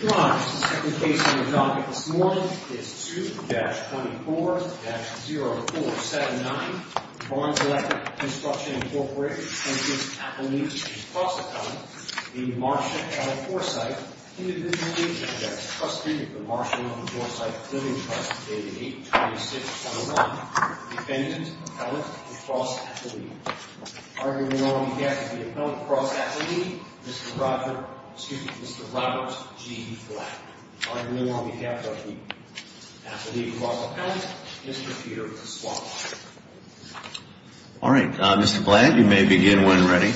Your Honor, the second case on the docket this morning is 2-24-0479 Barnes Electric Construction, Inc. v. Appellee v. Cross Appellee The Marsha L. Forsythe, individually, is the trustee of the Marsha L. Forsythe Living Trust, dated 8-26-01, defendant, appellate, and cross-appellee. Arguing now on behalf of the appellate and cross-appellee, Mr. Robert G. Black. Arguing now on behalf of the appellate and cross-appellate, Mr. Peter Swalwell. All right, Mr. Black, you may begin when ready.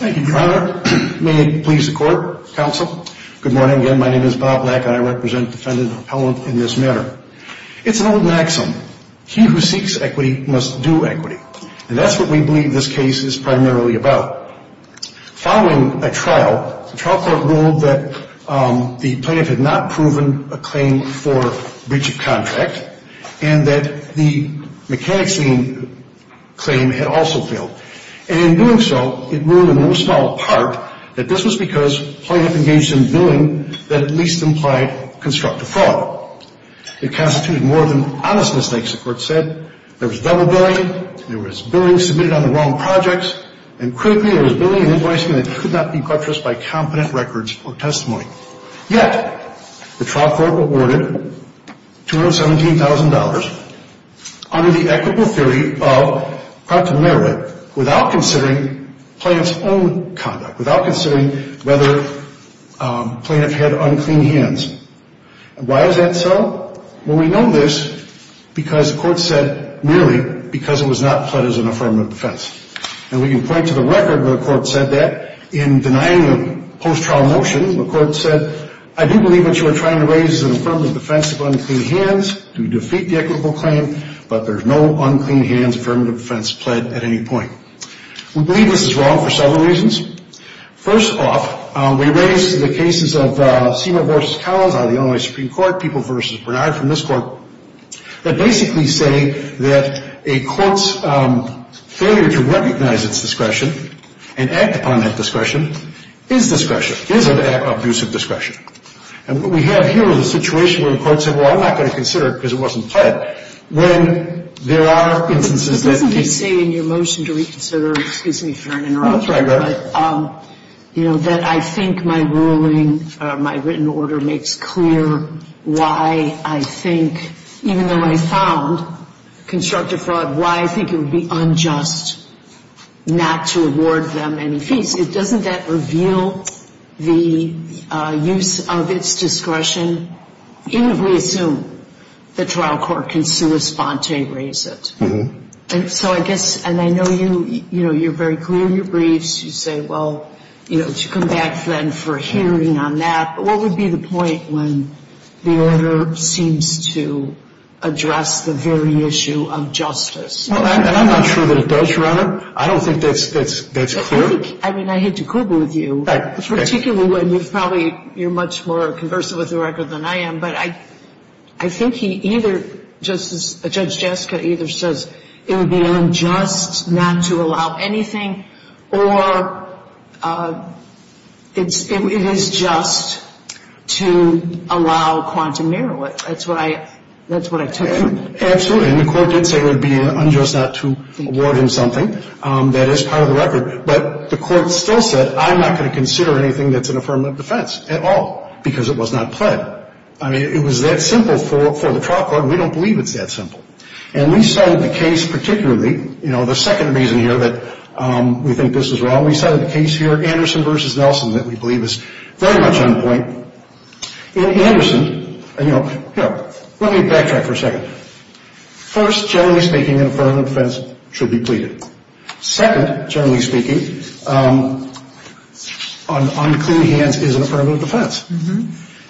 Thank you, Your Honor. May it please the Court, Counsel. Good morning again. My name is Bob Black and I represent the defendant and appellant in this matter. It's an old maxim, he who seeks equity must do equity. And that's what we believe this case is primarily about. Following a trial, the trial court ruled that the plaintiff had not proven a claim for breach of contract and that the mechanics lien claim had also failed. And in doing so, it ruled in no small part that this was because plaintiff engaged in billing that at least implied constructive fraud. It constituted more than honest mistakes, the Court said. There was double billing, there was billing submitted on the wrong projects, and critically, there was billing and advisement that could not be purchased by competent records or testimony. Yet, the trial court awarded $217,000 under the equitable theory of practical merit without considering plaintiff's own conduct, without considering whether plaintiff had unclean hands. And why is that so? Well, we know this because the Court said merely because it was not pled as an affirmative defense. And we can point to the record where the Court said that in denying a post-trial motion. The Court said, I do believe what you are trying to raise is an affirmative defense of unclean hands to defeat the equitable claim, but there's no unclean hands affirmative defense pled at any point. We believe this is wrong for several reasons. First off, we raise the cases of Seymour v. Collins out of the Illinois Supreme Court, People v. Bernard from this Court, that basically say that a court's failure to recognize its discretion and act upon that discretion is discretion, is an abuse of discretion. And what we have here is a situation where the Court said, well, I'm not going to consider it because it wasn't pled, but when there are instances that... But doesn't it say in your motion to reconsider, excuse me for an interruption, that I think my ruling, my written order makes clear why I think, even though I found constructive fraud, why I think it would be unjust not to award them any fees. Doesn't that reveal the use of its discretion? Even if we assume the trial court can sui sponte raise it. And so I guess, and I know you, you know, you're very clear in your briefs. You say, well, you know, come back then for a hearing on that. But what would be the point when the order seems to address the very issue of justice? Well, I'm not sure that it does, Your Honor. I don't think that's clear. I think, I mean, I hate to quibble with you, particularly when you're probably, you're much more conversant with the record than I am. But I think he either, Judge Jessica either says it would be unjust not to allow anything, or it is just to allow quantum merit. That's what I took from it. Absolutely. And the Court did say it would be unjust not to award him something that is part of the record. But the Court still said, I'm not going to consider anything that's an affirmative defense at all, because it was not pled. I mean, it was that simple for the trial court, and we don't believe it's that simple. And we cited the case particularly, you know, the second reason here that we think this is wrong, we cited the case here, Anderson v. Nelson, that we believe is very much on point. In Anderson, you know, here, let me backtrack for a second. First, generally speaking, an affirmative defense should be pleaded. Second, generally speaking, an unclean hands is an affirmative defense.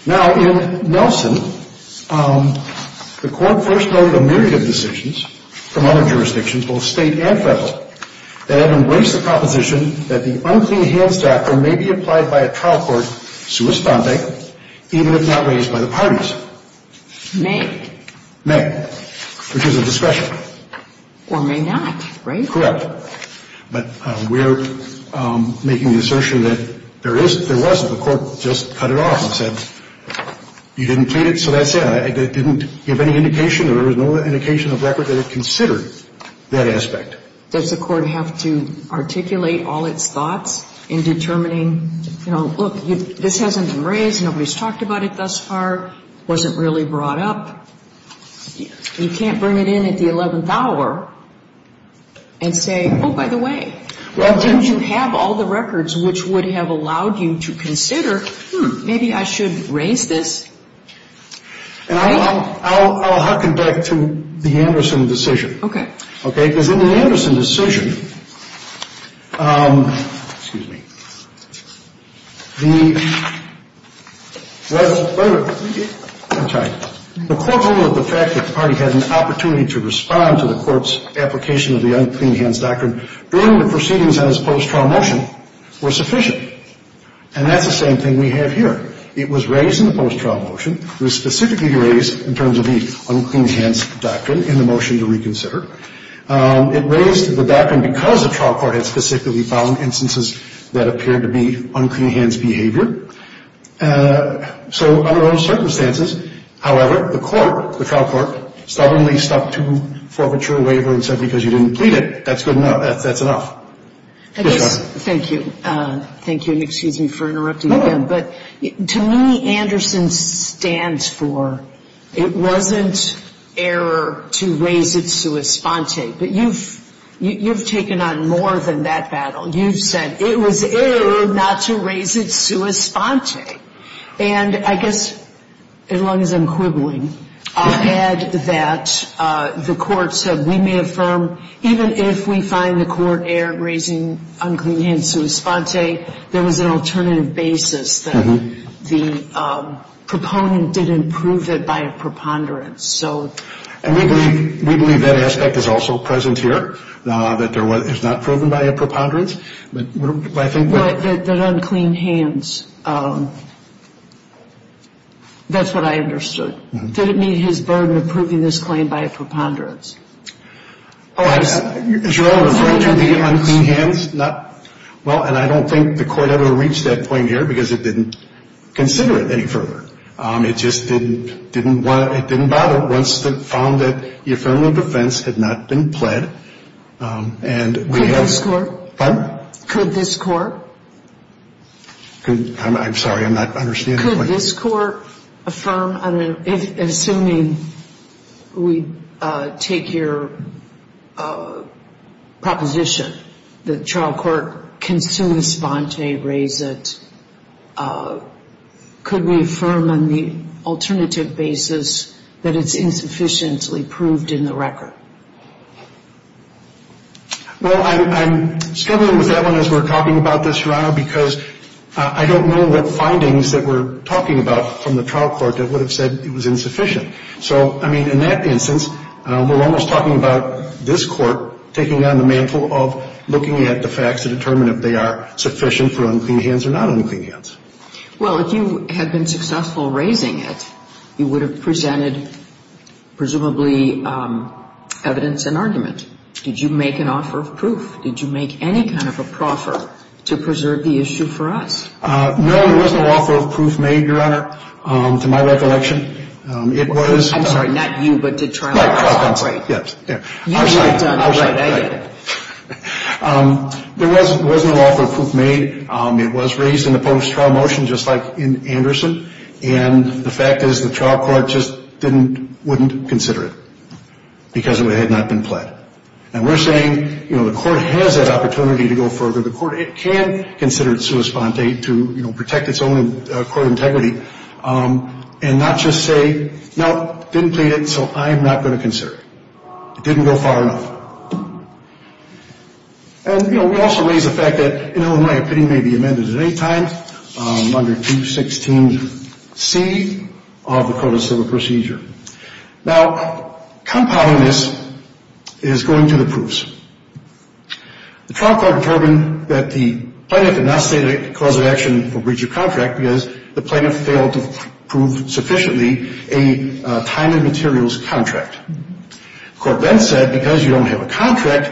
Now, in Nelson, the Court first noted a myriad of decisions from other jurisdictions, both state and federal, that embrace the proposition that the unclean hands doctrine may be applied by a trial court sui stande, even if not raised by the parties. May. May. Which is a discretion. Correct. Or may not, right? Correct. But we're making the assertion that there is, there wasn't. The Court just cut it off and said, you didn't plead it, so that's it. It didn't give any indication or there was no indication of record that it considered that aspect. Does the Court have to articulate all its thoughts in determining, you know, look, this hasn't been raised, nobody's talked about it thus far, wasn't really brought up. You can't bring it in at the 11th hour and say, oh, by the way, don't you have all the records which would have allowed you to consider, hmm, maybe I should raise this. And I'll harken back to the Anderson decision. Okay. Okay. Because in the Anderson decision, excuse me, the court ruled that the fact that the party had an opportunity to respond to the court's application of the unclean hands doctrine during the proceedings on its post-trial motion was sufficient. And that's the same thing we have here. It was raised in the post-trial motion. It was specifically raised in terms of the unclean hands doctrine in the motion to reconsider. It raised the doctrine because the trial court had specifically found instances that appeared to be unclean hands behavior. So under those circumstances, however, the court, the trial court, stubbornly stuck to forfeiture and waiver and said because you didn't plead it, that's good enough, that's enough. Thank you. Thank you. And excuse me for interrupting again. But to me, Anderson stands for it wasn't error to raise it sua sponte. But you've taken on more than that battle. You've said it was error not to raise it sua sponte. And I guess as long as I'm quibbling, I'll add that the court said we may affirm, even if we find the court error in raising unclean hands sua sponte, there was an alternative basis that the proponent didn't prove it by a preponderance. And we believe that aspect is also present here, that it's not proven by a preponderance. But I think that unclean hands, that's what I understood. Did it meet his burden of proving this claim by a preponderance? Well, and I don't think the court ever reached that point here because it didn't consider it any further. It just didn't bother once it found that the affirmative defense had not been pled. Could this court? Pardon? Could this court? I'm sorry. I'm not understanding the question. Could this court affirm, assuming we take your proposition that trial court can sua sponte, raise it, could we affirm on the alternative basis that it's insufficiently proved in the record? Well, I'm struggling with that one as we're talking about this, Your Honor, because I don't know what findings that we're talking about from the trial court that would have said it was insufficient. So, I mean, in that instance, we're almost talking about this court taking on the mantle of looking at the facts to determine if they are sufficient for unclean hands or not unclean hands. Well, if you had been successful raising it, you would have presented presumably evidence and argument. Did you make an offer of proof? Did you make any kind of a proffer to preserve the issue for us? No, there was no offer of proof made, Your Honor, to my recollection. It was- I'm sorry, not you, but to trial court. Right, trial court. You would have done the right thing. I'm sorry. There was no offer of proof made. It was raised in the post-trial motion just like in Anderson, and the fact is the trial court just wouldn't consider it because it had not been pled. And we're saying, you know, the court has that opportunity to go further. The court can consider it sua sponte to, you know, protect its own court integrity and not just say, no, didn't plead it, so I'm not going to consider it. It didn't go far enough. And, you know, we also raise the fact that, in my opinion, it may be amended at any time under 216C of the Code of Civil Procedure. Now, compounding this is going to the proofs. The trial court determined that the plaintiff did not state a cause of action for breach of contract because the plaintiff failed to prove sufficiently a time and materials contract. The court then said because you don't have a contract,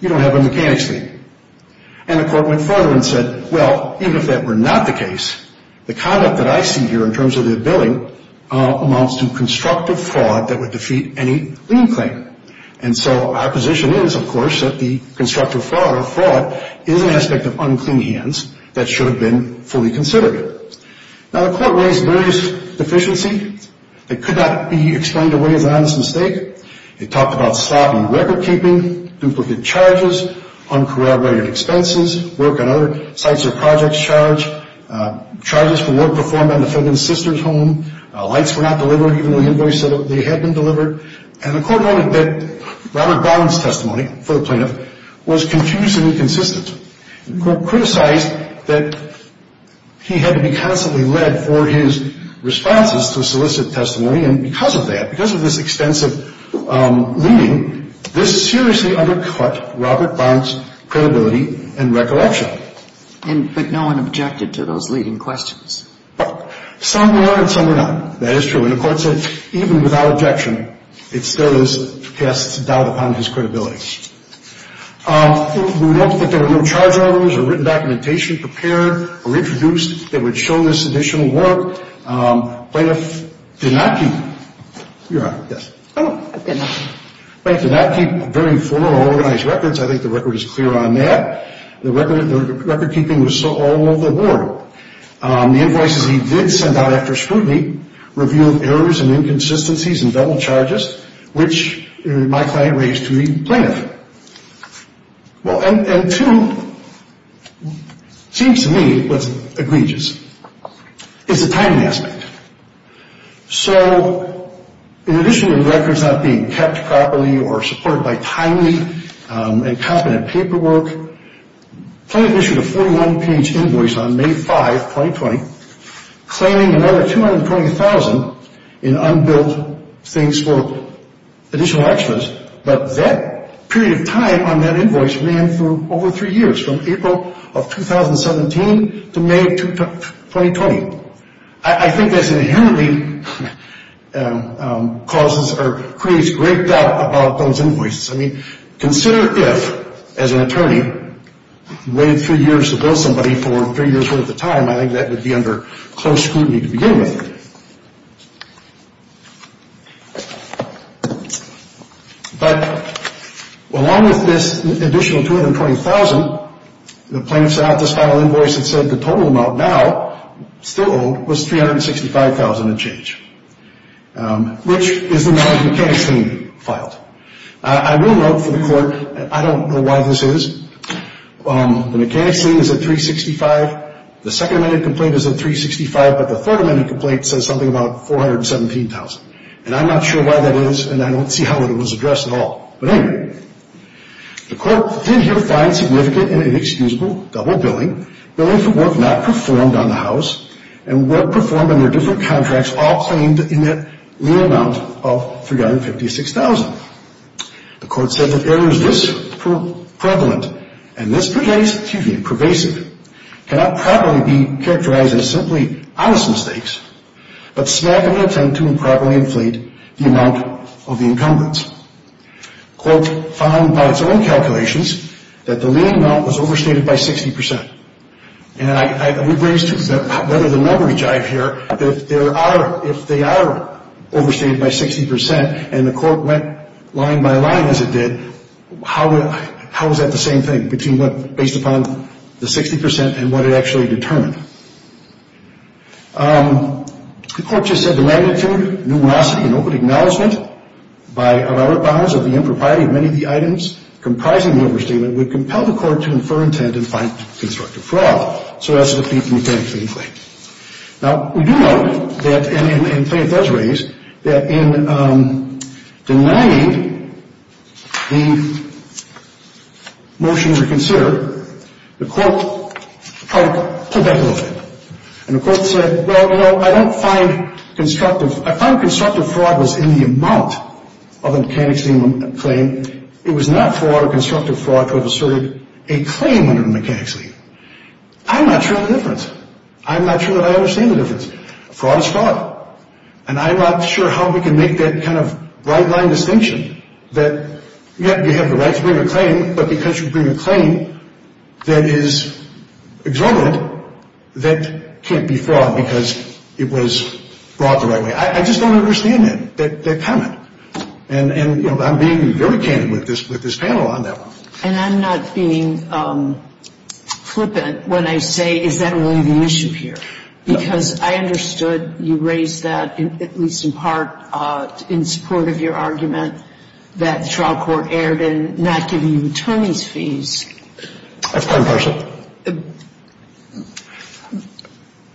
you don't have a mechanics lien. And the court went further and said, well, even if that were not the case, the conduct that I see here in terms of the billing amounts to constructive fraud that would defeat any lien claim. And so our position is, of course, that the constructive fraud is an aspect of unclean hands that should have been fully considered. Now, the court raised various deficiencies that could not be explained away as an honest mistake. It talked about sloppy record keeping, duplicate charges, uncorroborated expenses, work on other sites or projects charged, charges for work performed on defendant's sister's home, lights were not delivered even though the invoice said they had been delivered. And the court noted that Robert Barnes' testimony for the plaintiff was confused and inconsistent. The court criticized that he had to be constantly led for his responses to solicit testimony. And because of that, because of this extensive lien, this seriously undercut Robert Barnes' credibility and recollection. But no one objected to those leading questions? Some were and some were not. That is true. And the court said even without objection, it still casts doubt upon his credibility. We noted that there were no charge orders or written documentation prepared or introduced that would show this additional work. Plaintiff did not keep them. Your Honor, yes. Plaintiff did not keep very formal organized records. I think the record is clear on that. The record keeping was all over the ward. The invoices he did send out after scrutiny revealed errors and inconsistencies and double charges, which my client raised to the plaintiff. And two, it seems to me what's egregious is the timing aspect. So in addition to the records not being kept properly or supported by timely and competent paperwork, plaintiff issued a 41-page invoice on May 5, 2020, claiming another $220,000 in unbuilt things for additional extras. But that period of time on that invoice ran for over three years, from April of 2017 to May of 2020. I think this inherently causes or creates great doubt about those invoices. I mean, consider if, as an attorney, you waited three years to bill somebody for three years' worth of time. I think that would be under close scrutiny to begin with. But along with this additional $220,000, the plaintiff sent out this final invoice that said the total amount now still owed was $365,000 and change, which is the amount of mechanics lien filed. I will note for the court, and I don't know why this is, the mechanics lien is at $365,000. The second-amended complaint is at $365,000, but the third-amended complaint says something about $417,000. And I'm not sure why that is, and I don't see how it was addressed at all. But anyway, the court did here find significant and inexcusable double billing, billing for work not performed on the house and work performed under different contracts, all claimed in that lien amount of $356,000. The court said that errors this prevalent and this pervasive cannot properly be characterized as simply honest mistakes, but smack of an attempt to improperly inflate the amount of the encumbrance. The court found by its own calculations that the lien amount was overstated by 60%. And I would raise whether the leverage I have here, if they are overstated by 60% and the court went line by line as it did, how is that the same thing, based upon the 60% and what it actually determined? The court just said the magnitude, numerosity, and open acknowledgement of our bounds of the impropriety of many of the items comprising the overstatement would compel the court to infer intent and find constructive fraud. So that's the defeat of the complaint. Now, we do note that, and the complaint does raise, that in denying the motion to consider, the court tried to pull back a little bit. And the court said, well, you know, I don't find constructive. I find constructive fraud was in the amount of the mechanics lien claim. It was not fraud or constructive fraud to have asserted a claim under the mechanics lien. I'm not sure of the difference. I'm not sure that I understand the difference. Fraud is fraud. And I'm not sure how we can make that kind of right-line distinction that you have the right to bring a claim, but because you bring a claim that is exorbitant, that can't be fraud because it was brought the right way. I just don't understand that comment. And, you know, I'm being very candid with this panel on that one. And I'm not being flippant when I say, is that really the issue here? Because I understood you raised that, at least in part in support of your argument, that the trial court erred in not giving you attorneys' fees. I have time to parse it.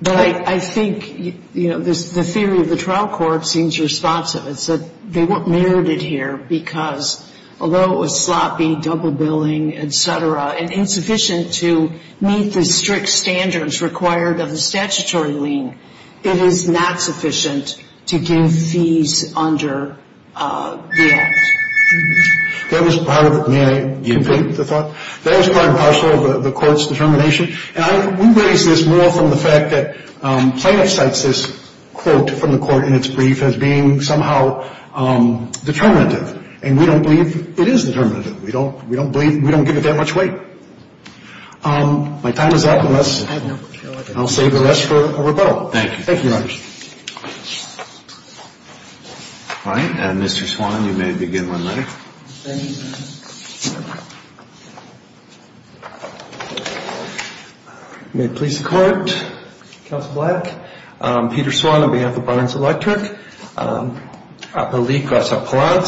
But I think, you know, the theory of the trial court seems responsive. It's that they weren't merited here because, although it was sloppy, double billing, et cetera, and insufficient to meet the strict standards required of the statutory lien, it is not sufficient to give fees under the Act. That was part of it. May I complete the thought? Yes. That was part and parcel of the Court's determination. And we raise this more from the fact that plaintiff cites this quote from the Court in its brief as being somehow determinative. And we don't believe it is determinative. We don't believe it. We don't give it that much weight. My time is up. I'll save the rest for a rebuttal. Thank you. Thank you, Your Honor. All right. And, Mr. Swan, you may begin when ready. Thank you. May it please the Court, Counsel Black, Peter Swan on behalf of Barnes Electric, appellee cross appellant.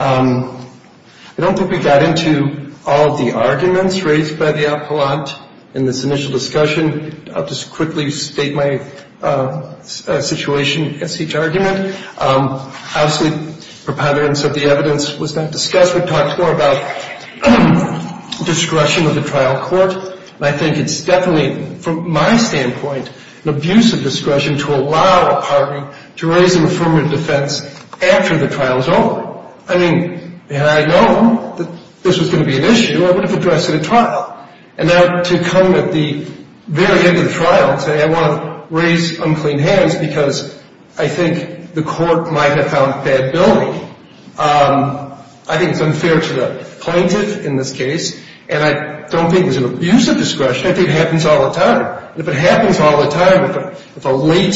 I don't think we got into all of the arguments raised by the appellant in this initial discussion. I'll just quickly state my situation against each argument. Obviously, preponderance of the evidence was not discussed. We talked more about discretion of the trial court. And I think it's definitely, from my standpoint, an abuse of discretion to allow a party to raise an affirmative defense after the trial is over. I mean, and I know that this was going to be an issue. I would have addressed it at trial. And now to come at the very end of the trial and say I want to raise unclean hands because I think the Court might have found bad billing. I think it's unfair to the plaintiff in this case. And I don't think it's an abuse of discretion. I think it happens all the time. If it happens all the time, if a late,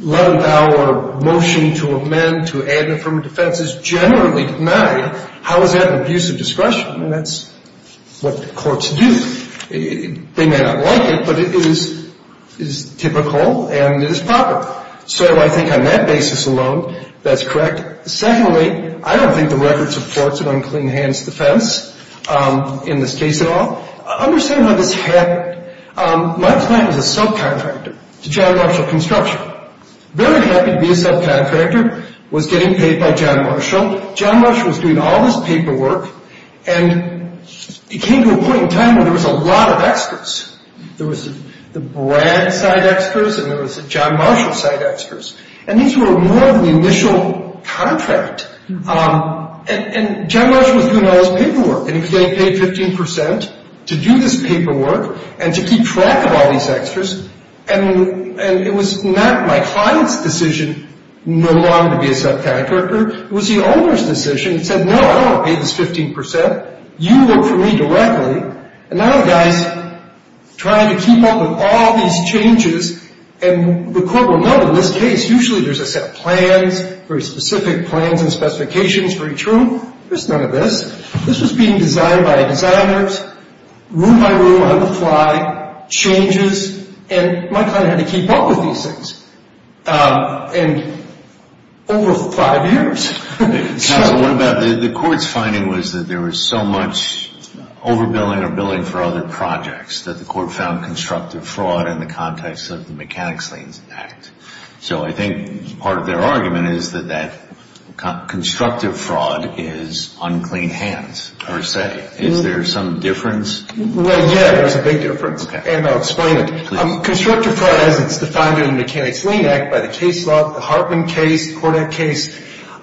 11-hour motion to amend to add an affirmative defense is generally denied, how is that an abuse of discretion? I mean, that's what courts do. They may not like it, but it is typical and it is proper. So I think on that basis alone, that's correct. Secondly, I don't think the record supports an unclean hands defense in this case at all. Understand how this happened. My client was a subcontractor to John Marshall Construction. Very happy to be a subcontractor, was getting paid by John Marshall. John Marshall was doing all this paperwork, and it came to a point in time where there was a lot of experts. There was the Brad side experts and there was the John Marshall side experts. And these were more of the initial contract. And John Marshall was doing all this paperwork, and he paid 15 percent to do this paperwork and to keep track of all these experts. And it was not my client's decision no longer to be a subcontractor. It was the owner's decision. He said, no, I don't pay this 15 percent. You work for me directly. And now the guy's trying to keep up with all these changes. And the court will know in this case, usually there's a set of plans, very specific plans and specifications, very true. There's none of this. This was being designed by designers, room by room, on the fly, changes. And my client had to keep up with these things. And over five years. The court's finding was that there was so much overbilling or billing for other projects that the court found constructive fraud in the context of the Mechanics Lien Act. So I think part of their argument is that that constructive fraud is unclean hands per se. Is there some difference? Yeah, there's a big difference. And I'll explain it. Constructive fraud, as it's defined in the Mechanics Lien Act by the case law, the Hartman case, Kordak case,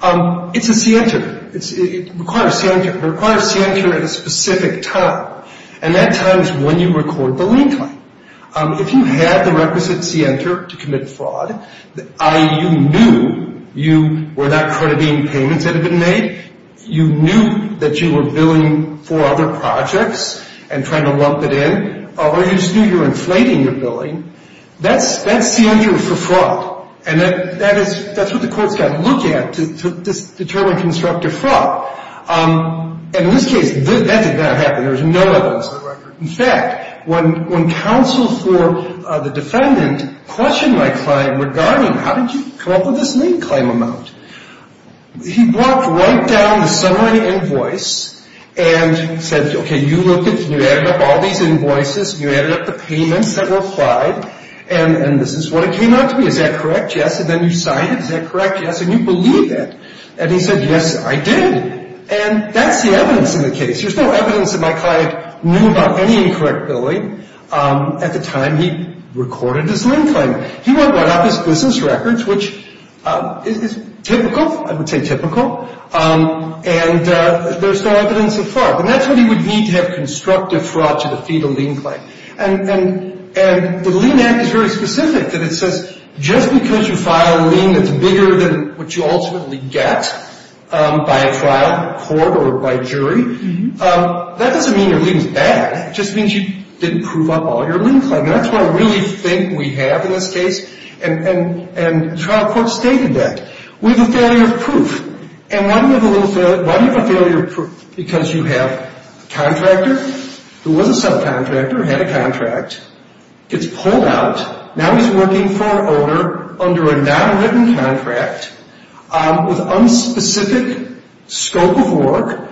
it's a scienter. It requires scienter at a specific time. And that time is when you record the lien claim. If you had the requisite scienter to commit fraud, i.e., you knew you were not crediting payments that had been made, you knew that you were billing for other projects and trying to lump it in, or you just knew you were inflating your billing, that's scienter for fraud. And that's what the court's got to look at to determine constructive fraud. And in this case, that did not happen. There was no evidence of the record. In fact, when counsel for the defendant questioned my client regarding how did you come up with this lien claim amount, he brought right down the summary invoice and said, okay, you looked at it and you added up all these invoices and you added up the payments that were applied, and this is what it came out to be. Is that correct? Yes. And then you signed it. Is that correct? Yes. And you believe it. And he said, yes, I did. And that's the evidence in the case. There's no evidence that my client knew about any incorrect billing at the time he recorded his lien claim. He went right off his business records, which is typical. I would say typical. And there's no evidence of fraud. And that's what you would need to have constructive fraud to defeat a lien claim. And the lien act is very specific. It says just because you file a lien that's bigger than what you ultimately get by a trial, court, or by jury, that doesn't mean your lien's bad. It just means you didn't prove up all your lien claim. And that's what I really think we have in this case, and trial court stated that. We have a failure of proof. And why do you have a failure of proof? Because you have a contractor who was a subcontractor, had a contract, gets pulled out, now he's working for an owner under a non-written contract with unspecific scope of work,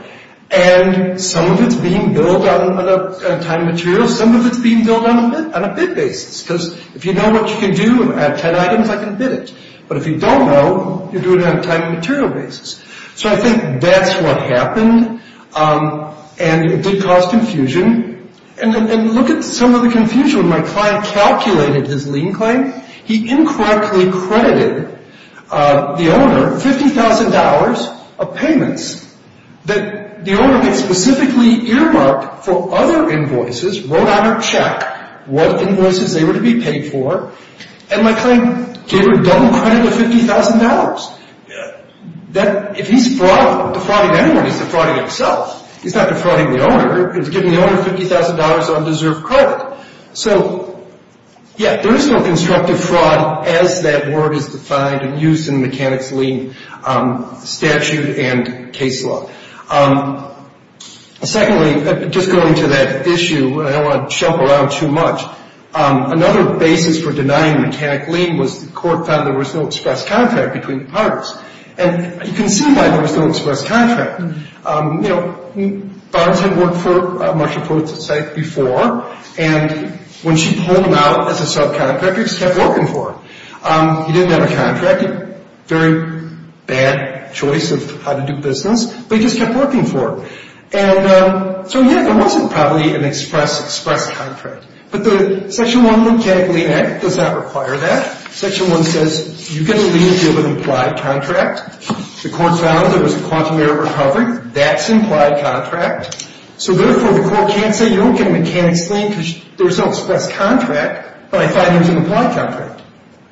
and some of it's being billed on a time and material, some of it's being billed on a bid basis. Because if you know what you can do and add 10 items, I can bid it. But if you don't know, you do it on a time and material basis. So I think that's what happened, and it did cause confusion. And look at some of the confusion. When my client calculated his lien claim, he incorrectly credited the owner $50,000 of payments that the owner had specifically earmarked for other invoices, wrote on a check what invoices they were to be paid for, and my client gave him a double credit of $50,000. If he's defrauding anyone, he's defrauding himself. He's not defrauding the owner. He's giving the owner $50,000 of undeserved credit. So, yeah, there is no constructive fraud as that word is defined and used in the Mechanics' Lien Statute and case law. Secondly, just going to that issue, I don't want to jump around too much. Another basis for denying Mechanic lien was the court found there was no express contract between the parties. And you can see why there was no express contract. You know, Barnes had worked for Marshall Pruitt's estate before, and when she pulled him out as a subcontractor, he just kept working for her. He didn't have a contract. He had a very bad choice of how to do business, but he just kept working for her. And so, yeah, there wasn't probably an express contract. But the Section 1 of the Mechanic Lien Act does not require that. Section 1 says you get a lien if you have an implied contract. The court found there was a quantum error recovery. That's an implied contract. So, therefore, the court can't say you don't get a Mechanic's Lien because there's no express contract, but I thought there was an implied contract.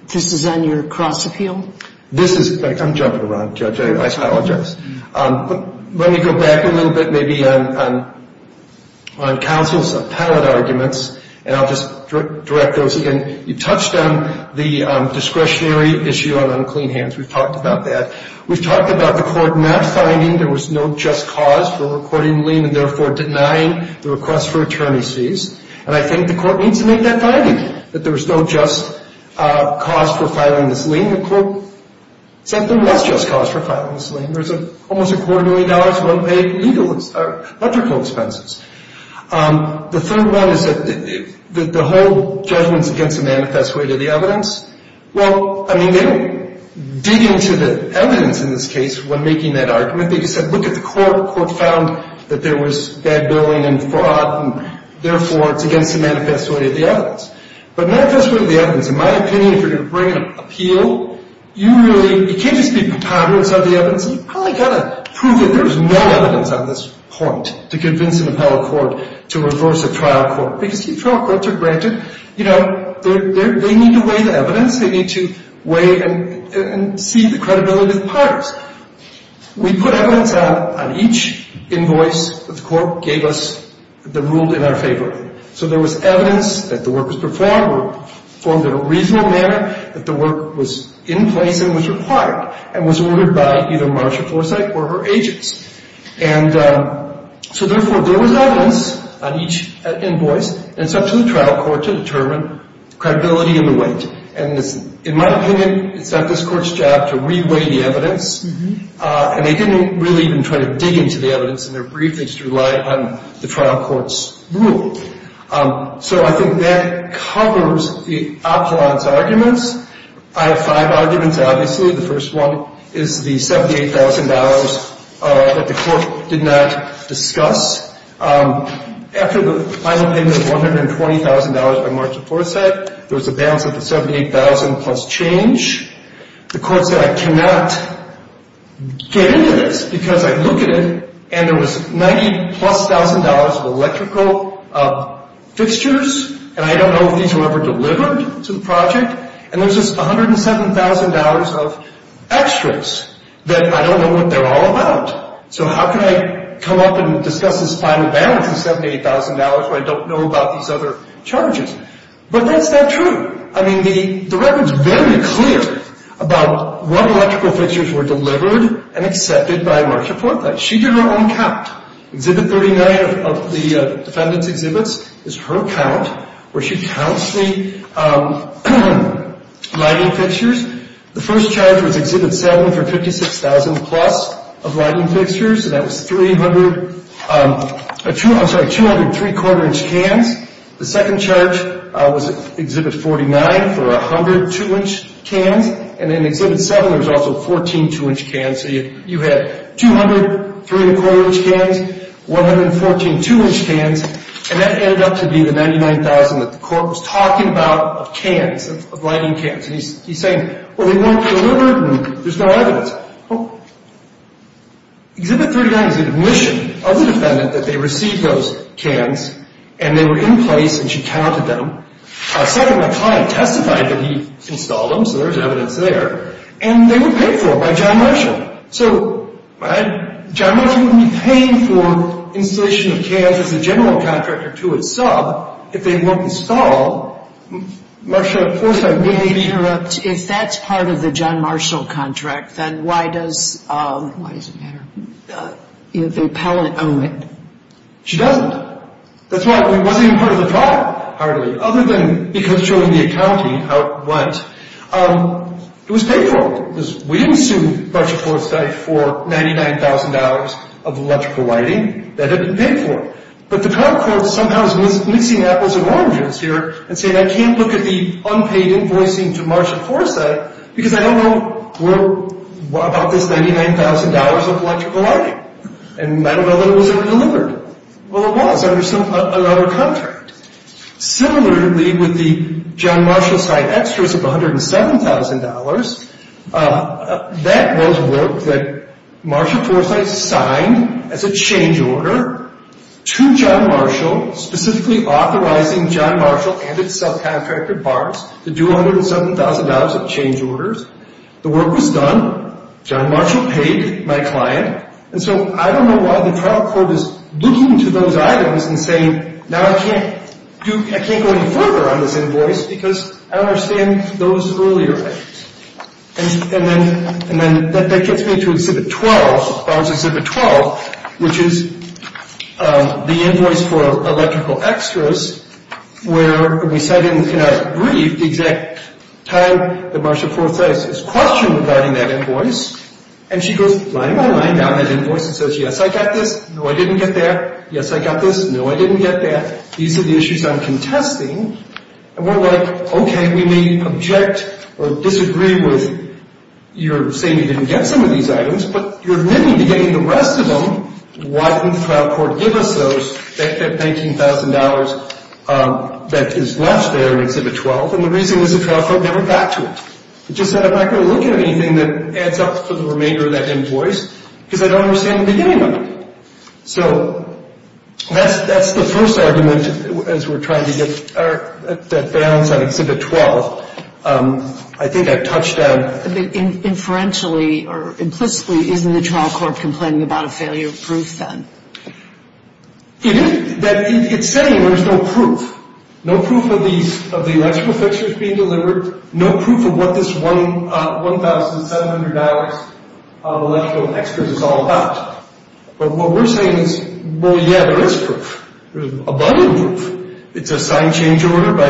This is on your cross-appeal? This is. I'm jumping around, Judge. I apologize. Let me go back a little bit maybe on counsel's appellate arguments, and I'll just direct those again. You touched on the discretionary issue on unclean hands. We've talked about that. We've talked about the court not finding there was no just cause for recording the lien and, therefore, denying the request for attorney's fees. And I think the court needs to make that finding, that there was no just cause for filing this lien. The court said there was just cause for filing this lien. There's almost a quarter million dollars of unpaid legal expenses or electrical expenses. The third one is that the whole judgment is against the manifest way to the evidence. Well, I mean, they don't dig into the evidence in this case when making that argument. They just said, look at the court. The court found that there was bad billing and fraud, and, therefore, it's against the manifest way to the evidence. But manifest way to the evidence, in my opinion, if you're going to bring an appeal, you really can't just be preponderance of the evidence. You've probably got to prove that there's no evidence on this point to convince an appellate court to reverse a trial court because if you throw a court to granted, you know, they need to weigh the evidence. They need to weigh and see the credibility of the parties. We put evidence on each invoice that the court gave us that ruled in our favor. So there was evidence that the work was performed or performed in a reasonable manner, that the work was in place and was required and was ordered by either Marcia Forsyth or her agents. And so, therefore, there was evidence on each invoice. And it's up to the trial court to determine credibility and the weight. And, in my opinion, it's not this court's job to re-weigh the evidence. And they didn't really even try to dig into the evidence in their brief. They just relied on the trial court's rule. So I think that covers the appellant's arguments. I have five arguments, obviously. The first one is the $78,000 that the court did not discuss. After the final payment of $120,000 by Marcia Forsyth, there was a balance of the $78,000 plus change. The court said, I cannot get into this because I look at it, and there was $90,000-plus of electrical fixtures, and I don't know if these were ever delivered to the project. And there's this $107,000 of extras that I don't know what they're all about. So how can I come up and discuss this final balance of $78,000 when I don't know about these other charges? But that's not true. I mean, the record's very clear about what electrical fixtures were delivered and accepted by Marcia Forsyth. She did her own count. Exhibit 39 of the defendant's exhibits is her count, where she counts the lighting fixtures. The first charge was Exhibit 7 for $56,000-plus of lighting fixtures. So that was 200 3-quarter-inch cans. The second charge was Exhibit 49 for 100 2-inch cans. And in Exhibit 7, there was also 14 2-inch cans. So you had 200 3-quarter-inch cans, 114 2-inch cans, and that ended up to be the $99,000 that the court was talking about of cans, of lighting cans. And he's saying, well, they weren't delivered, and there's no evidence. Well, Exhibit 39 is the admission of the defendant that they received those cans, and they were in place, and she counted them. Second, my client testified that he installed them, so there's evidence there, and they were paid for by John Marshall. So John Marshall wouldn't be paying for installation of cans as a general contractor to a sub if they weren't installed. Marsha, of course, I may be— May I interrupt? If that's part of the John Marshall contract, then why does the appellant own it? She doesn't. That's why it wasn't even part of the trial, hardly, other than because she was in the accounting out once. It was paid for. We didn't sue Marshall Foresight for $99,000 of electrical lighting. That hadn't been paid for. But the current court somehow is mixing apples and oranges here and saying I can't look at the unpaid invoicing to Marshall Foresight because I don't know about this $99,000 of electrical lighting, and I don't know that it was ever delivered. Well, it was under another contract. Similarly, with the John Marshall site extras of $107,000, that was work that Marshall Foresight signed as a change order to John Marshall, specifically authorizing John Marshall and its subcontractor, BART, to do $107,000 of change orders. The work was done. John Marshall paid my client. And so I don't know why the trial court is looking to those items and saying, now I can't go any further on this invoice because I don't understand those earlier items. And then that gets me to Exhibit 12, Barnes Exhibit 12, which is the invoice for electrical extras where we said in a brief the exact time that Marshall Foresight is questioned regarding that invoice, and she goes line by line down that invoice and says, yes, I got this. No, I didn't get that. Yes, I got this. No, I didn't get that. These are the issues I'm contesting. And we're like, okay, we may object or disagree with your saying you didn't get some of these items, but you're admitting to getting the rest of them. Why didn't the trial court give us those $19,000 that is left there in Exhibit 12? And the reason is the trial court never got to it. It just said I'm not going to look at anything that adds up for the remainder of that invoice because I don't understand the beginning of it. So that's the first argument as we're trying to get that balance on Exhibit 12. I think I've touched on – Inferentially or implicitly, isn't the trial court complaining about a failure of proof then? It is. It's saying there's no proof, no proof of the electrical fixtures being delivered, no proof of what this $1,700 of electrical extras is all about. But what we're saying is, well, yeah, there is proof. There's abundant proof. It's a sign change order by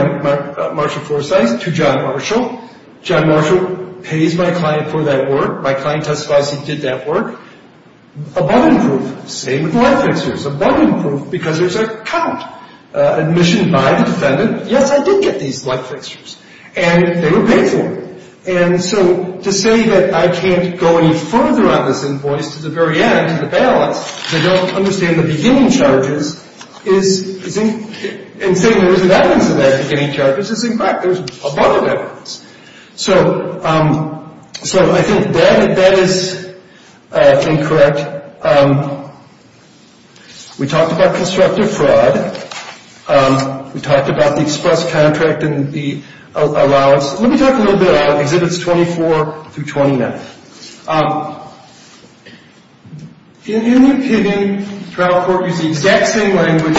Marshall Forsythe to John Marshall. John Marshall pays my client for that work. My client testifies he did that work. Abundant proof. Same with the light fixtures. Abundant proof because there's a count, admission by the defendant. Yes, I did get these light fixtures. And they were paid for. And so to say that I can't go any further on this invoice to the very end, to the balance, because I don't understand the beginning charges, and saying there isn't evidence of that beginning charges is incorrect. There's abundant evidence. So I think that is incorrect. We talked about constructive fraud. We talked about the express contract and the allowance. Let me talk a little bit about Exhibits 24 through 29. In any opinion, trial court uses the exact same language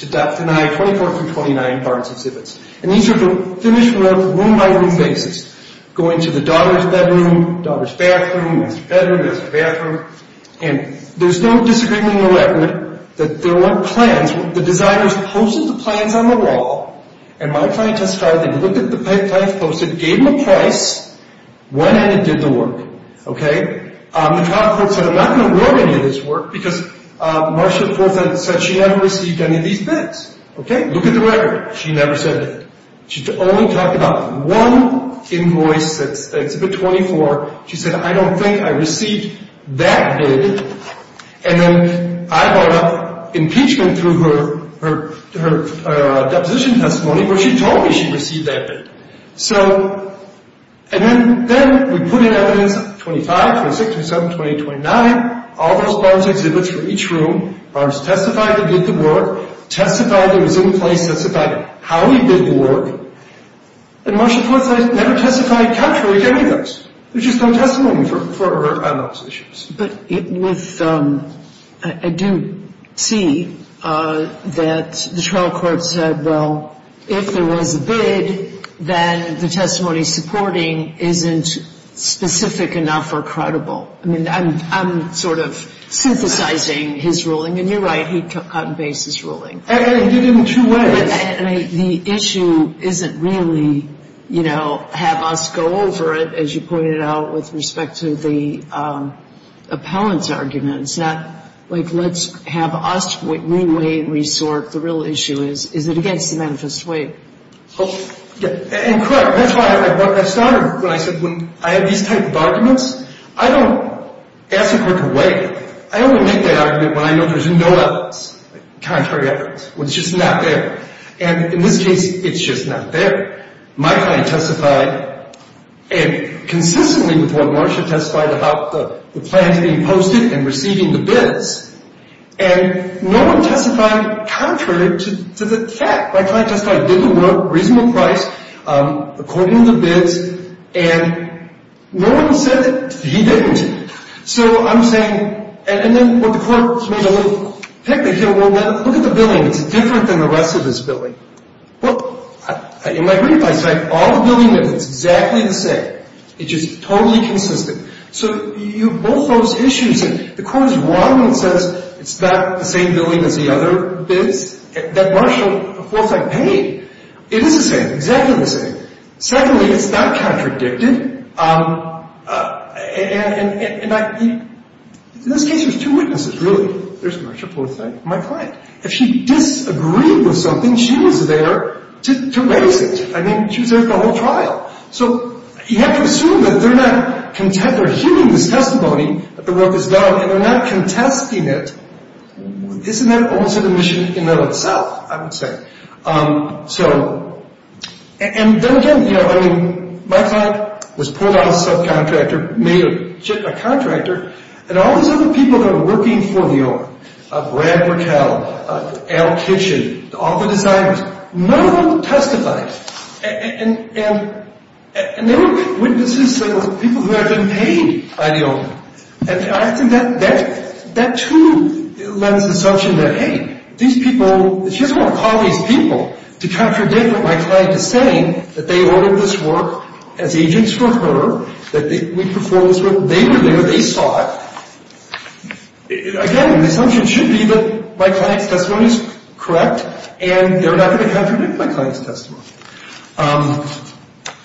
to deny 24 through 29 parts of exhibits. And these are the finished work, room by room basis, going to the daughter's bedroom, daughter's bathroom, master bedroom, master bathroom. And there's no disagreement or argument that there weren't plans. The designers posted the plans on the wall. And my client testified. They looked at the plans posted, gave them a price, went in and did the work. Okay? The trial court said, I'm not going to award any of this work because Marcia said she never received any of these bids. Okay? Look at the record. She never said that. She only talked about one invoice, that's Exhibit 24. She said, I don't think I received that bid. And then I brought up impeachment through her deposition testimony where she told me she received that bid. So, and then we put in evidence 25, 26, 27, 28, 29, all those parts of exhibits for each room. Marcia testified, did the work, testified it was in place, testified how we did the work. And Marcia never testified contrary to any of those. There's just no testimony for her on those issues. But with, I do see that the trial court said, well, if there was a bid, then the testimony supporting isn't specific enough or credible. I mean, I'm sort of synthesizing his ruling. And you're right, he took out and based his ruling. And he did it in two ways. The issue isn't really, you know, have us go over it, as you pointed out, with respect to the appellant's argument. It's not, like, let's have us re-weigh and re-sort. The real issue is, is it against the manifest way? And correct. That's why I started when I said, when I have these types of arguments, I don't ask the court to weigh it. I only make that argument when I know there's no evidence, contrary evidence, when it's just not there. And in this case, it's just not there. My client testified, and consistently with what Marcia testified, about the plans being posted and receiving the bids. And no one testified contrary to the fact. My client testified, did the work, reasonable price, according to the bids, and no one said that he didn't. So I'm saying, and then what the court made a little picnic here, well, look at the billing. It's different than the rest of this billing. Well, in my brief, I said all the billing is exactly the same. It's just totally consistent. So you have both those issues, and the court is wrong when it says it's not the same billing as the other bids. That Marcia, of course, I paid. It is the same, exactly the same. Secondly, it's not contradicted. And in this case, there's two witnesses, really. There's Marcia Porthet, my client. If she disagreed with something, she was there to raise it. I mean, she was there at the whole trial. So you have to assume that they're not, they're hearing this testimony that the work is done, and they're not contesting it. Isn't that also the mission in and of itself, I would say. So, and then again, you know, I mean, my client was pulled out of the subcontractor, made a contractor, and all these other people that are working for the owner, Brad Burkell, Al Kitchen, all the designers, none of them testified. And they were witnesses that were people who had been paid by the owner. And I think that too lends assumption that, hey, these people, she doesn't want to call these people to contradict what my client is saying, that they ordered this work as agents for her, that we performed this work. They were there. They saw it. Again, the assumption should be that my client's testimony is correct, and they're not going to contradict my client's testimony.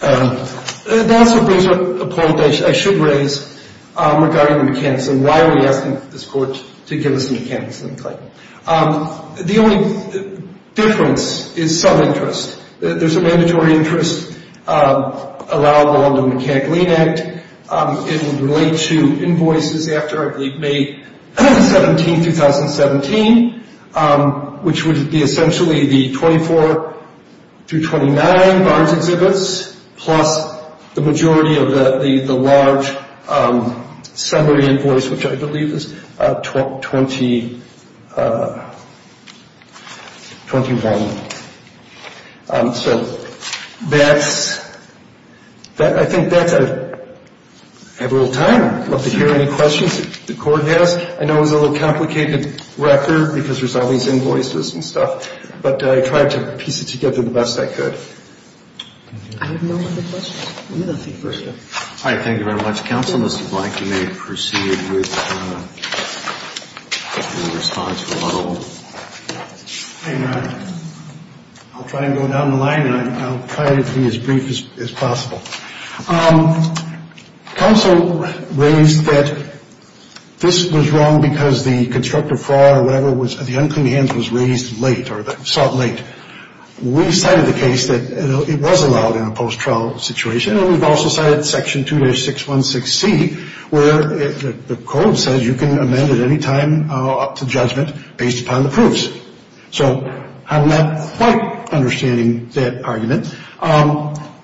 That also brings up a point that I should raise regarding the mechanics, and why are we asking this court to give us the mechanics of the claim? The only difference is some interest. There's a mandatory interest allowable under the Mechanic-Lean Act. It would relate to invoices after, I believe, May 17, 2017, which would be essentially the 24 through 29 Barnes exhibits, plus the majority of the large summary invoice, which I believe is 2021. So I think that's it. I have a little time. I'd love to hear any questions that the court has. I know it was a little complicated record because there's all these invoices and stuff, but I tried to piece it together the best I could. I have no other questions. Let me go to the first one. All right. Thank you very much, counsel. Mr. Blank, you may proceed with your response. I'll try and go down the line, and I'll try to be as brief as possible. Counsel raised that this was wrong because the constructive fraud or whatever, the unclean hands was raised late or sought late. We cited the case that it was allowed in a post-trial situation, and we've also cited Section 2-616C where the code says you can amend at any time up to judgment based upon the proofs. So I'm not quite understanding that argument.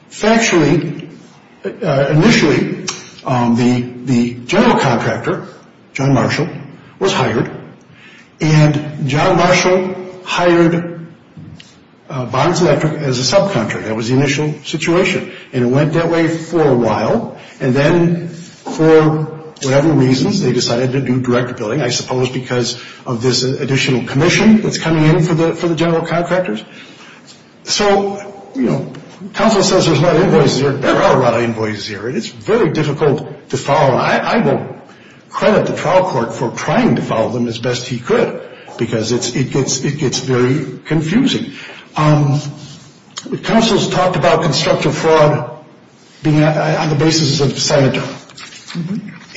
Factually, initially, the general contractor, John Marshall, was hired, and John Marshall hired Barnes Electric as a subcontractor. That was the initial situation, and it went that way for a while, and then for whatever reasons they decided to do direct billing, I suppose because of this additional commission that's coming in for the general contractors. So, you know, counsel says there's a lot of invoices here. There are a lot of invoices here, and it's very difficult to follow. I will credit the trial court for trying to follow them as best he could because it gets very confusing. Counsel's talked about constructive fraud being on the basis of scienter,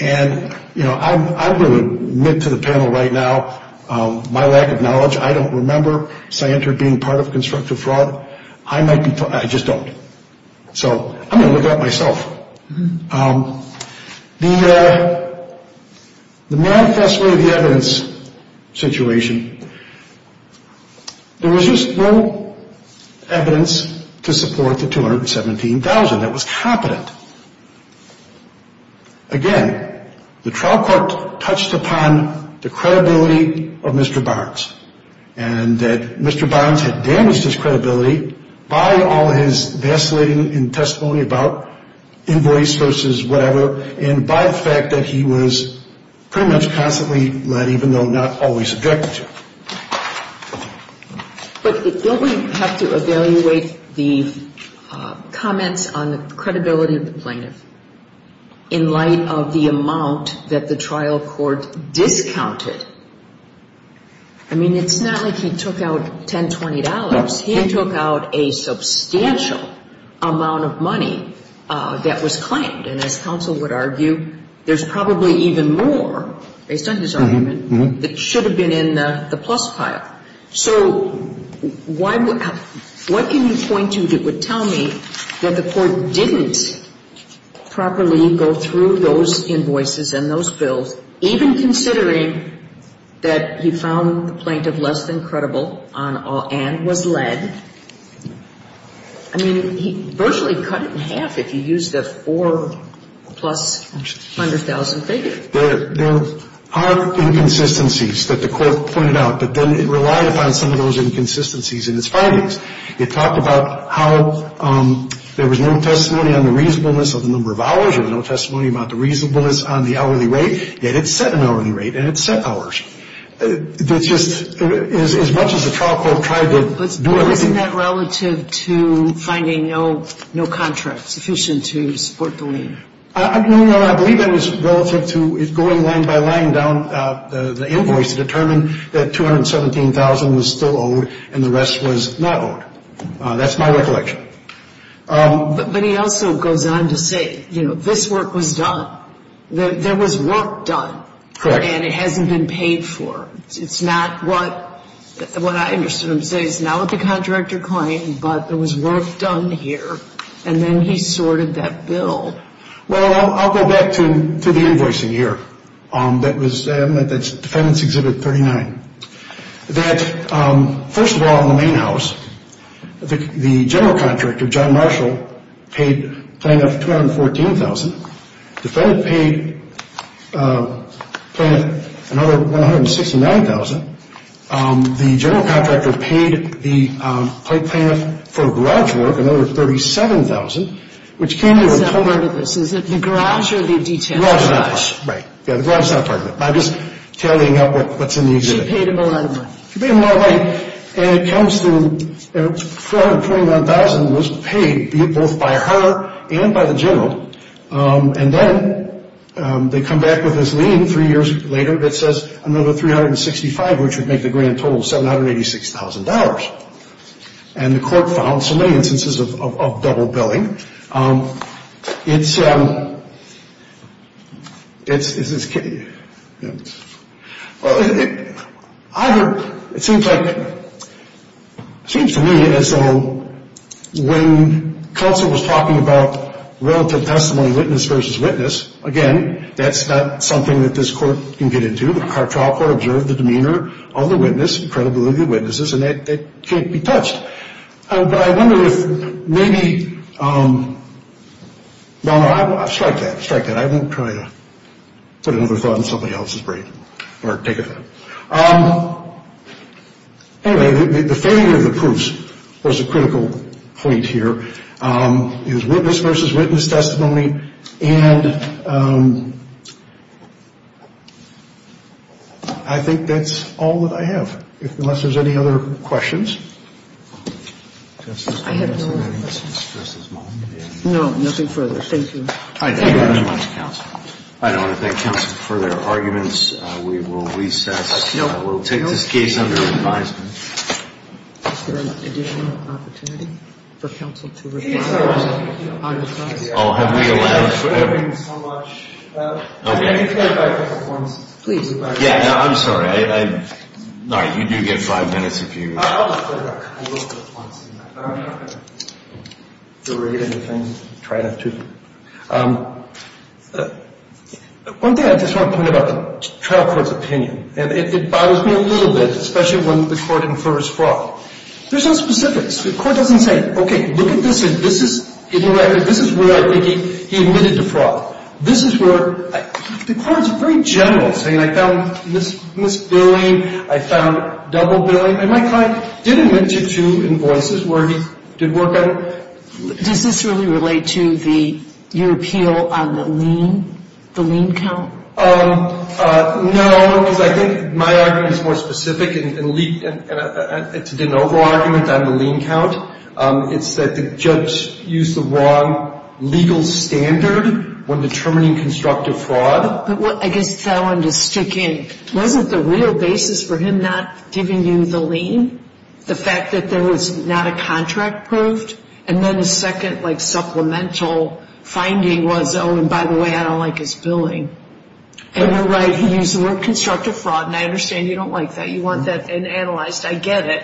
and, you know, I'm going to admit to the panel right now my lack of knowledge. I don't remember scienter being part of constructive fraud. I just don't. So I'm going to look it up myself. The manifesto of the evidence situation, there was just no evidence to support the $217,000. That was competent. Again, the trial court touched upon the credibility of Mr. Barnes and that Mr. Barnes had damaged his credibility by all his vacillating in testimony about invoice versus whatever and by the fact that he was pretty much constantly led, even though not always subjected to. But don't we have to evaluate the comments on the credibility of the plaintiff in light of the amount that the trial court discounted? I mean, it's not like he took out $1020. He took out a substantial amount of money that was claimed, and as counsel would argue, there's probably even more, based on his argument, that should have been in the plus pile. So what can you point to that would tell me that the court didn't properly go through those invoices and those bills, even considering that he found the plaintiff less than credible and was led? I mean, he virtually cut it in half if you use the four-plus-hundred-thousand figure. There are inconsistencies that the court pointed out, but then it relied upon some of those inconsistencies in its findings. It talked about how there was no testimony on the reasonableness of the number of hours and there was no testimony about the reasonableness on the hourly rate, yet it set an hourly rate and it set hours. That's just as much as the trial court tried to do it. But isn't that relative to finding no contract sufficient to support the lien? No, Your Honor. I believe that was relative to it going line by line down the invoice to determine that $217,000 was still owed and the rest was not owed. That's my recollection. But he also goes on to say, you know, this work was done. There was work done. Correct. And it hasn't been paid for. It's not what I understood him to say. It's not what the contractor claimed, but there was work done here, and then he sorted that bill. Well, I'll go back to the invoicing here. That's Defendant's Exhibit 39. First of all, in the main house, the general contractor, John Marshall, paid plaintiff $214,000. Defendant paid plaintiff another $169,000. The general contractor paid the plaintiff for garage work another $37,000, which came to a total of Is that part of this? Is it the garage or the detailed garage? Right. Yeah, the garage is not part of it. I'm just tallying up what's in the exhibit. She paid him a lot of money. She paid him a lot of money, and it comes to $421,000 was paid both by her and by the general. And then they come back with this lien three years later that says another $365,000, which would make the grand total $786,000. And the court found so many instances of double billing. It seems to me as though when counsel was talking about relative testimony witness versus witness, again, that's not something that this court can get into. The trial court observed the demeanor of the witness and credibility of the witnesses, and that can't be touched. But I wonder if maybe, no, no, strike that. Strike that. I won't try to put another thought in somebody else's brain or take it. Anyway, the failure of the proofs was a critical point here. It was witness versus witness testimony, and I think that's all that I have, unless there's any other questions. No, nothing further. Thank you. I thank you very much, counsel. I don't want to thank counsel for their arguments. We will recess. I will take this case under advisement. Is there an additional opportunity for counsel to repeat the argument? Oh, have we allowed it forever? Thank you so much. Can you clarify the performances? Please. Yeah, I'm sorry. No, you do get five minutes if you. I'll just clarify. I love those points. I'm not going to derate anything. Try not to. One thing I just want to point out, the trial court's opinion, and it bothers me a little bit, especially when the court infers fraud. There's no specifics. The court doesn't say, okay, look at this, and this is, in the record, this is where he admitted to fraud. This is where the court is very general, saying I found misbilling, I found double billing. And my client did admit to two invoices where he did work on it. Does this really relate to your appeal on the lien, the lien count? No, because I think my argument is more specific, and it's a de novo argument on the lien count. It's that the judge used the wrong legal standard when determining constructive fraud. I guess that one to stick in. Wasn't the real basis for him not giving you the lien, the fact that there was not a contract proved? And then the second, like, supplemental finding was, oh, and by the way, I don't like his billing. And you're right, he used the word constructive fraud, and I understand you don't like that. You want that analyzed. I get it.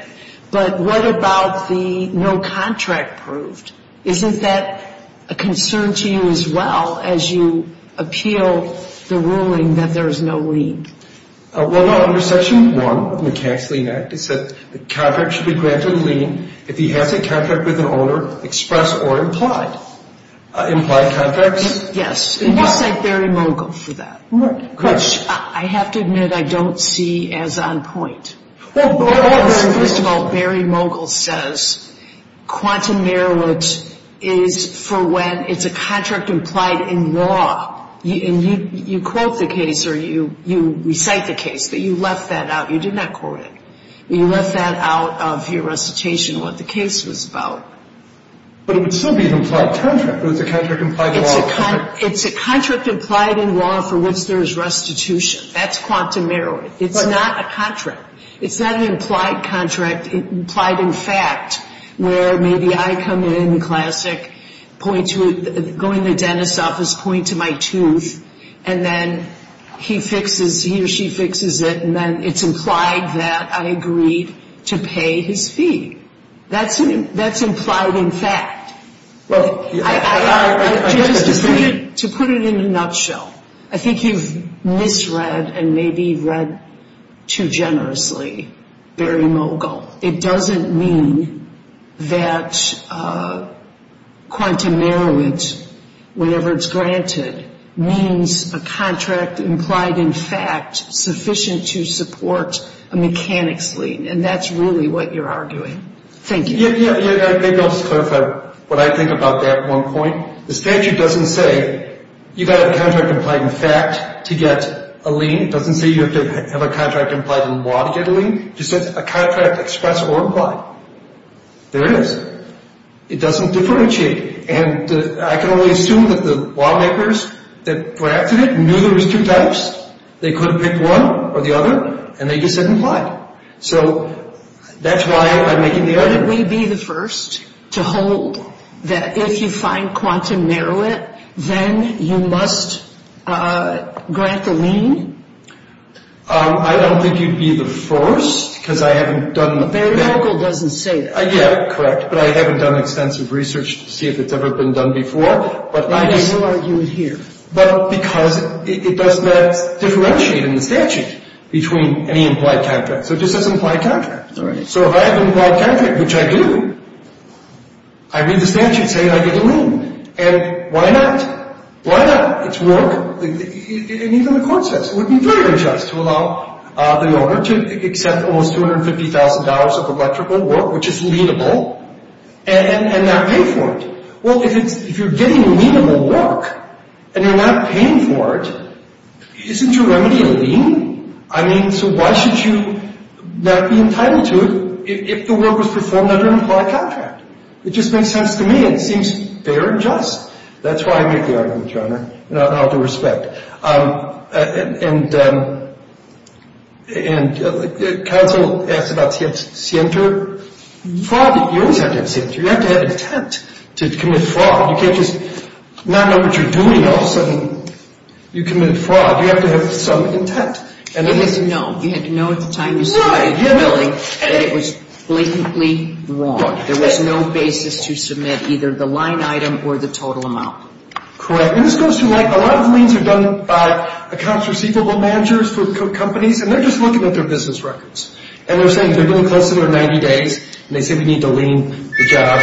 But what about the no contract proved? Isn't that a concern to you as well, as you appeal the ruling that there's no lien? Well, no, under Section 1 of the Tax Lien Act, it said the contract should be granted a lien if he has a contract with an owner, express or implied. Implied contracts? Yes, and you cite Barry Mogul for that. Correct. Which I have to admit I don't see as on point. Well, first of all, Barry Mogul says quantum merrilet is for when it's a contract implied in law. And you quote the case or you recite the case that you left that out. You did not quote it. You left that out of your recitation, what the case was about. But it would still be an implied contract, but it's a contract implied in law. It's a contract implied in law for which there is restitution. That's quantum merrilet. It's not a contract. It's not an implied contract, implied in fact, where maybe I come in, classic, point to it, go in the dentist's office, point to my tooth, and then he fixes, he or she fixes it, and then it's implied that I agreed to pay his fee. That's implied in fact. To put it in a nutshell, I think you've misread and maybe read too generously Barry Mogul. It doesn't mean that quantum merrilet, whenever it's granted, means a contract implied in fact sufficient to support a mechanics lien, and that's really what you're arguing. Thank you. Yeah, maybe I'll just clarify what I think about that one point. The statute doesn't say you've got to have a contract implied in fact to get a lien. It doesn't say you have to have a contract implied in law to get a lien. It just says a contract expressed or implied. There it is. It doesn't differentiate, and I can only assume that the lawmakers that drafted it knew there was two types. They could have picked one or the other, and they just said implied. So that's why I'm making the argument. Wouldn't we be the first to hold that if you find quantum merrilet, then you must grant the lien? I don't think you'd be the first because I haven't done that. Barry Mogul doesn't say that. Yeah, correct. But I haven't done extensive research to see if it's ever been done before. And you still argue it here. But because it does not differentiate in the statute between any implied contract. So it just says implied contract. All right. So if I have an implied contract, which I do, I read the statute saying I get a lien. And why not? Why not? It's work. And even the court says it would be very unjust to allow the owner to accept almost $250,000 of electrical work, which is lienable, and not pay for it. Well, if you're getting lienable work and you're not paying for it, isn't your remedy a lien? I mean, so why should you not be entitled to it if the work was performed under an implied contract? It just makes sense to me. It seems fair and just. That's why I make the argument, Your Honor. Out of respect. And counsel asked about scienter. Fraud, you always have to have scienter. You have to have intent to commit fraud. You can't just not know what you're doing and all of a sudden you commit fraud. You have to have some intent. You had to know. You had to know at the time you submitted the billing that it was blatantly wrong. There was no basis to submit either the line item or the total amount. Correct. And this goes to like a lot of liens are done by accounts receivable managers for companies, and they're just looking at their business records. And they're saying they're going to close it in 90 days, and they say we need to lien the job.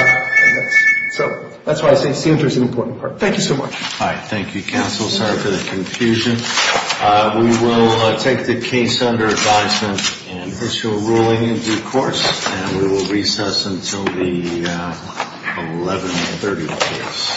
So that's why I say scienter is an important part. Thank you so much. All right. Thank you, counsel. I'm sorry for the confusion. We will take the case under advisement and issue a ruling in due course. And we will recess until the 1130.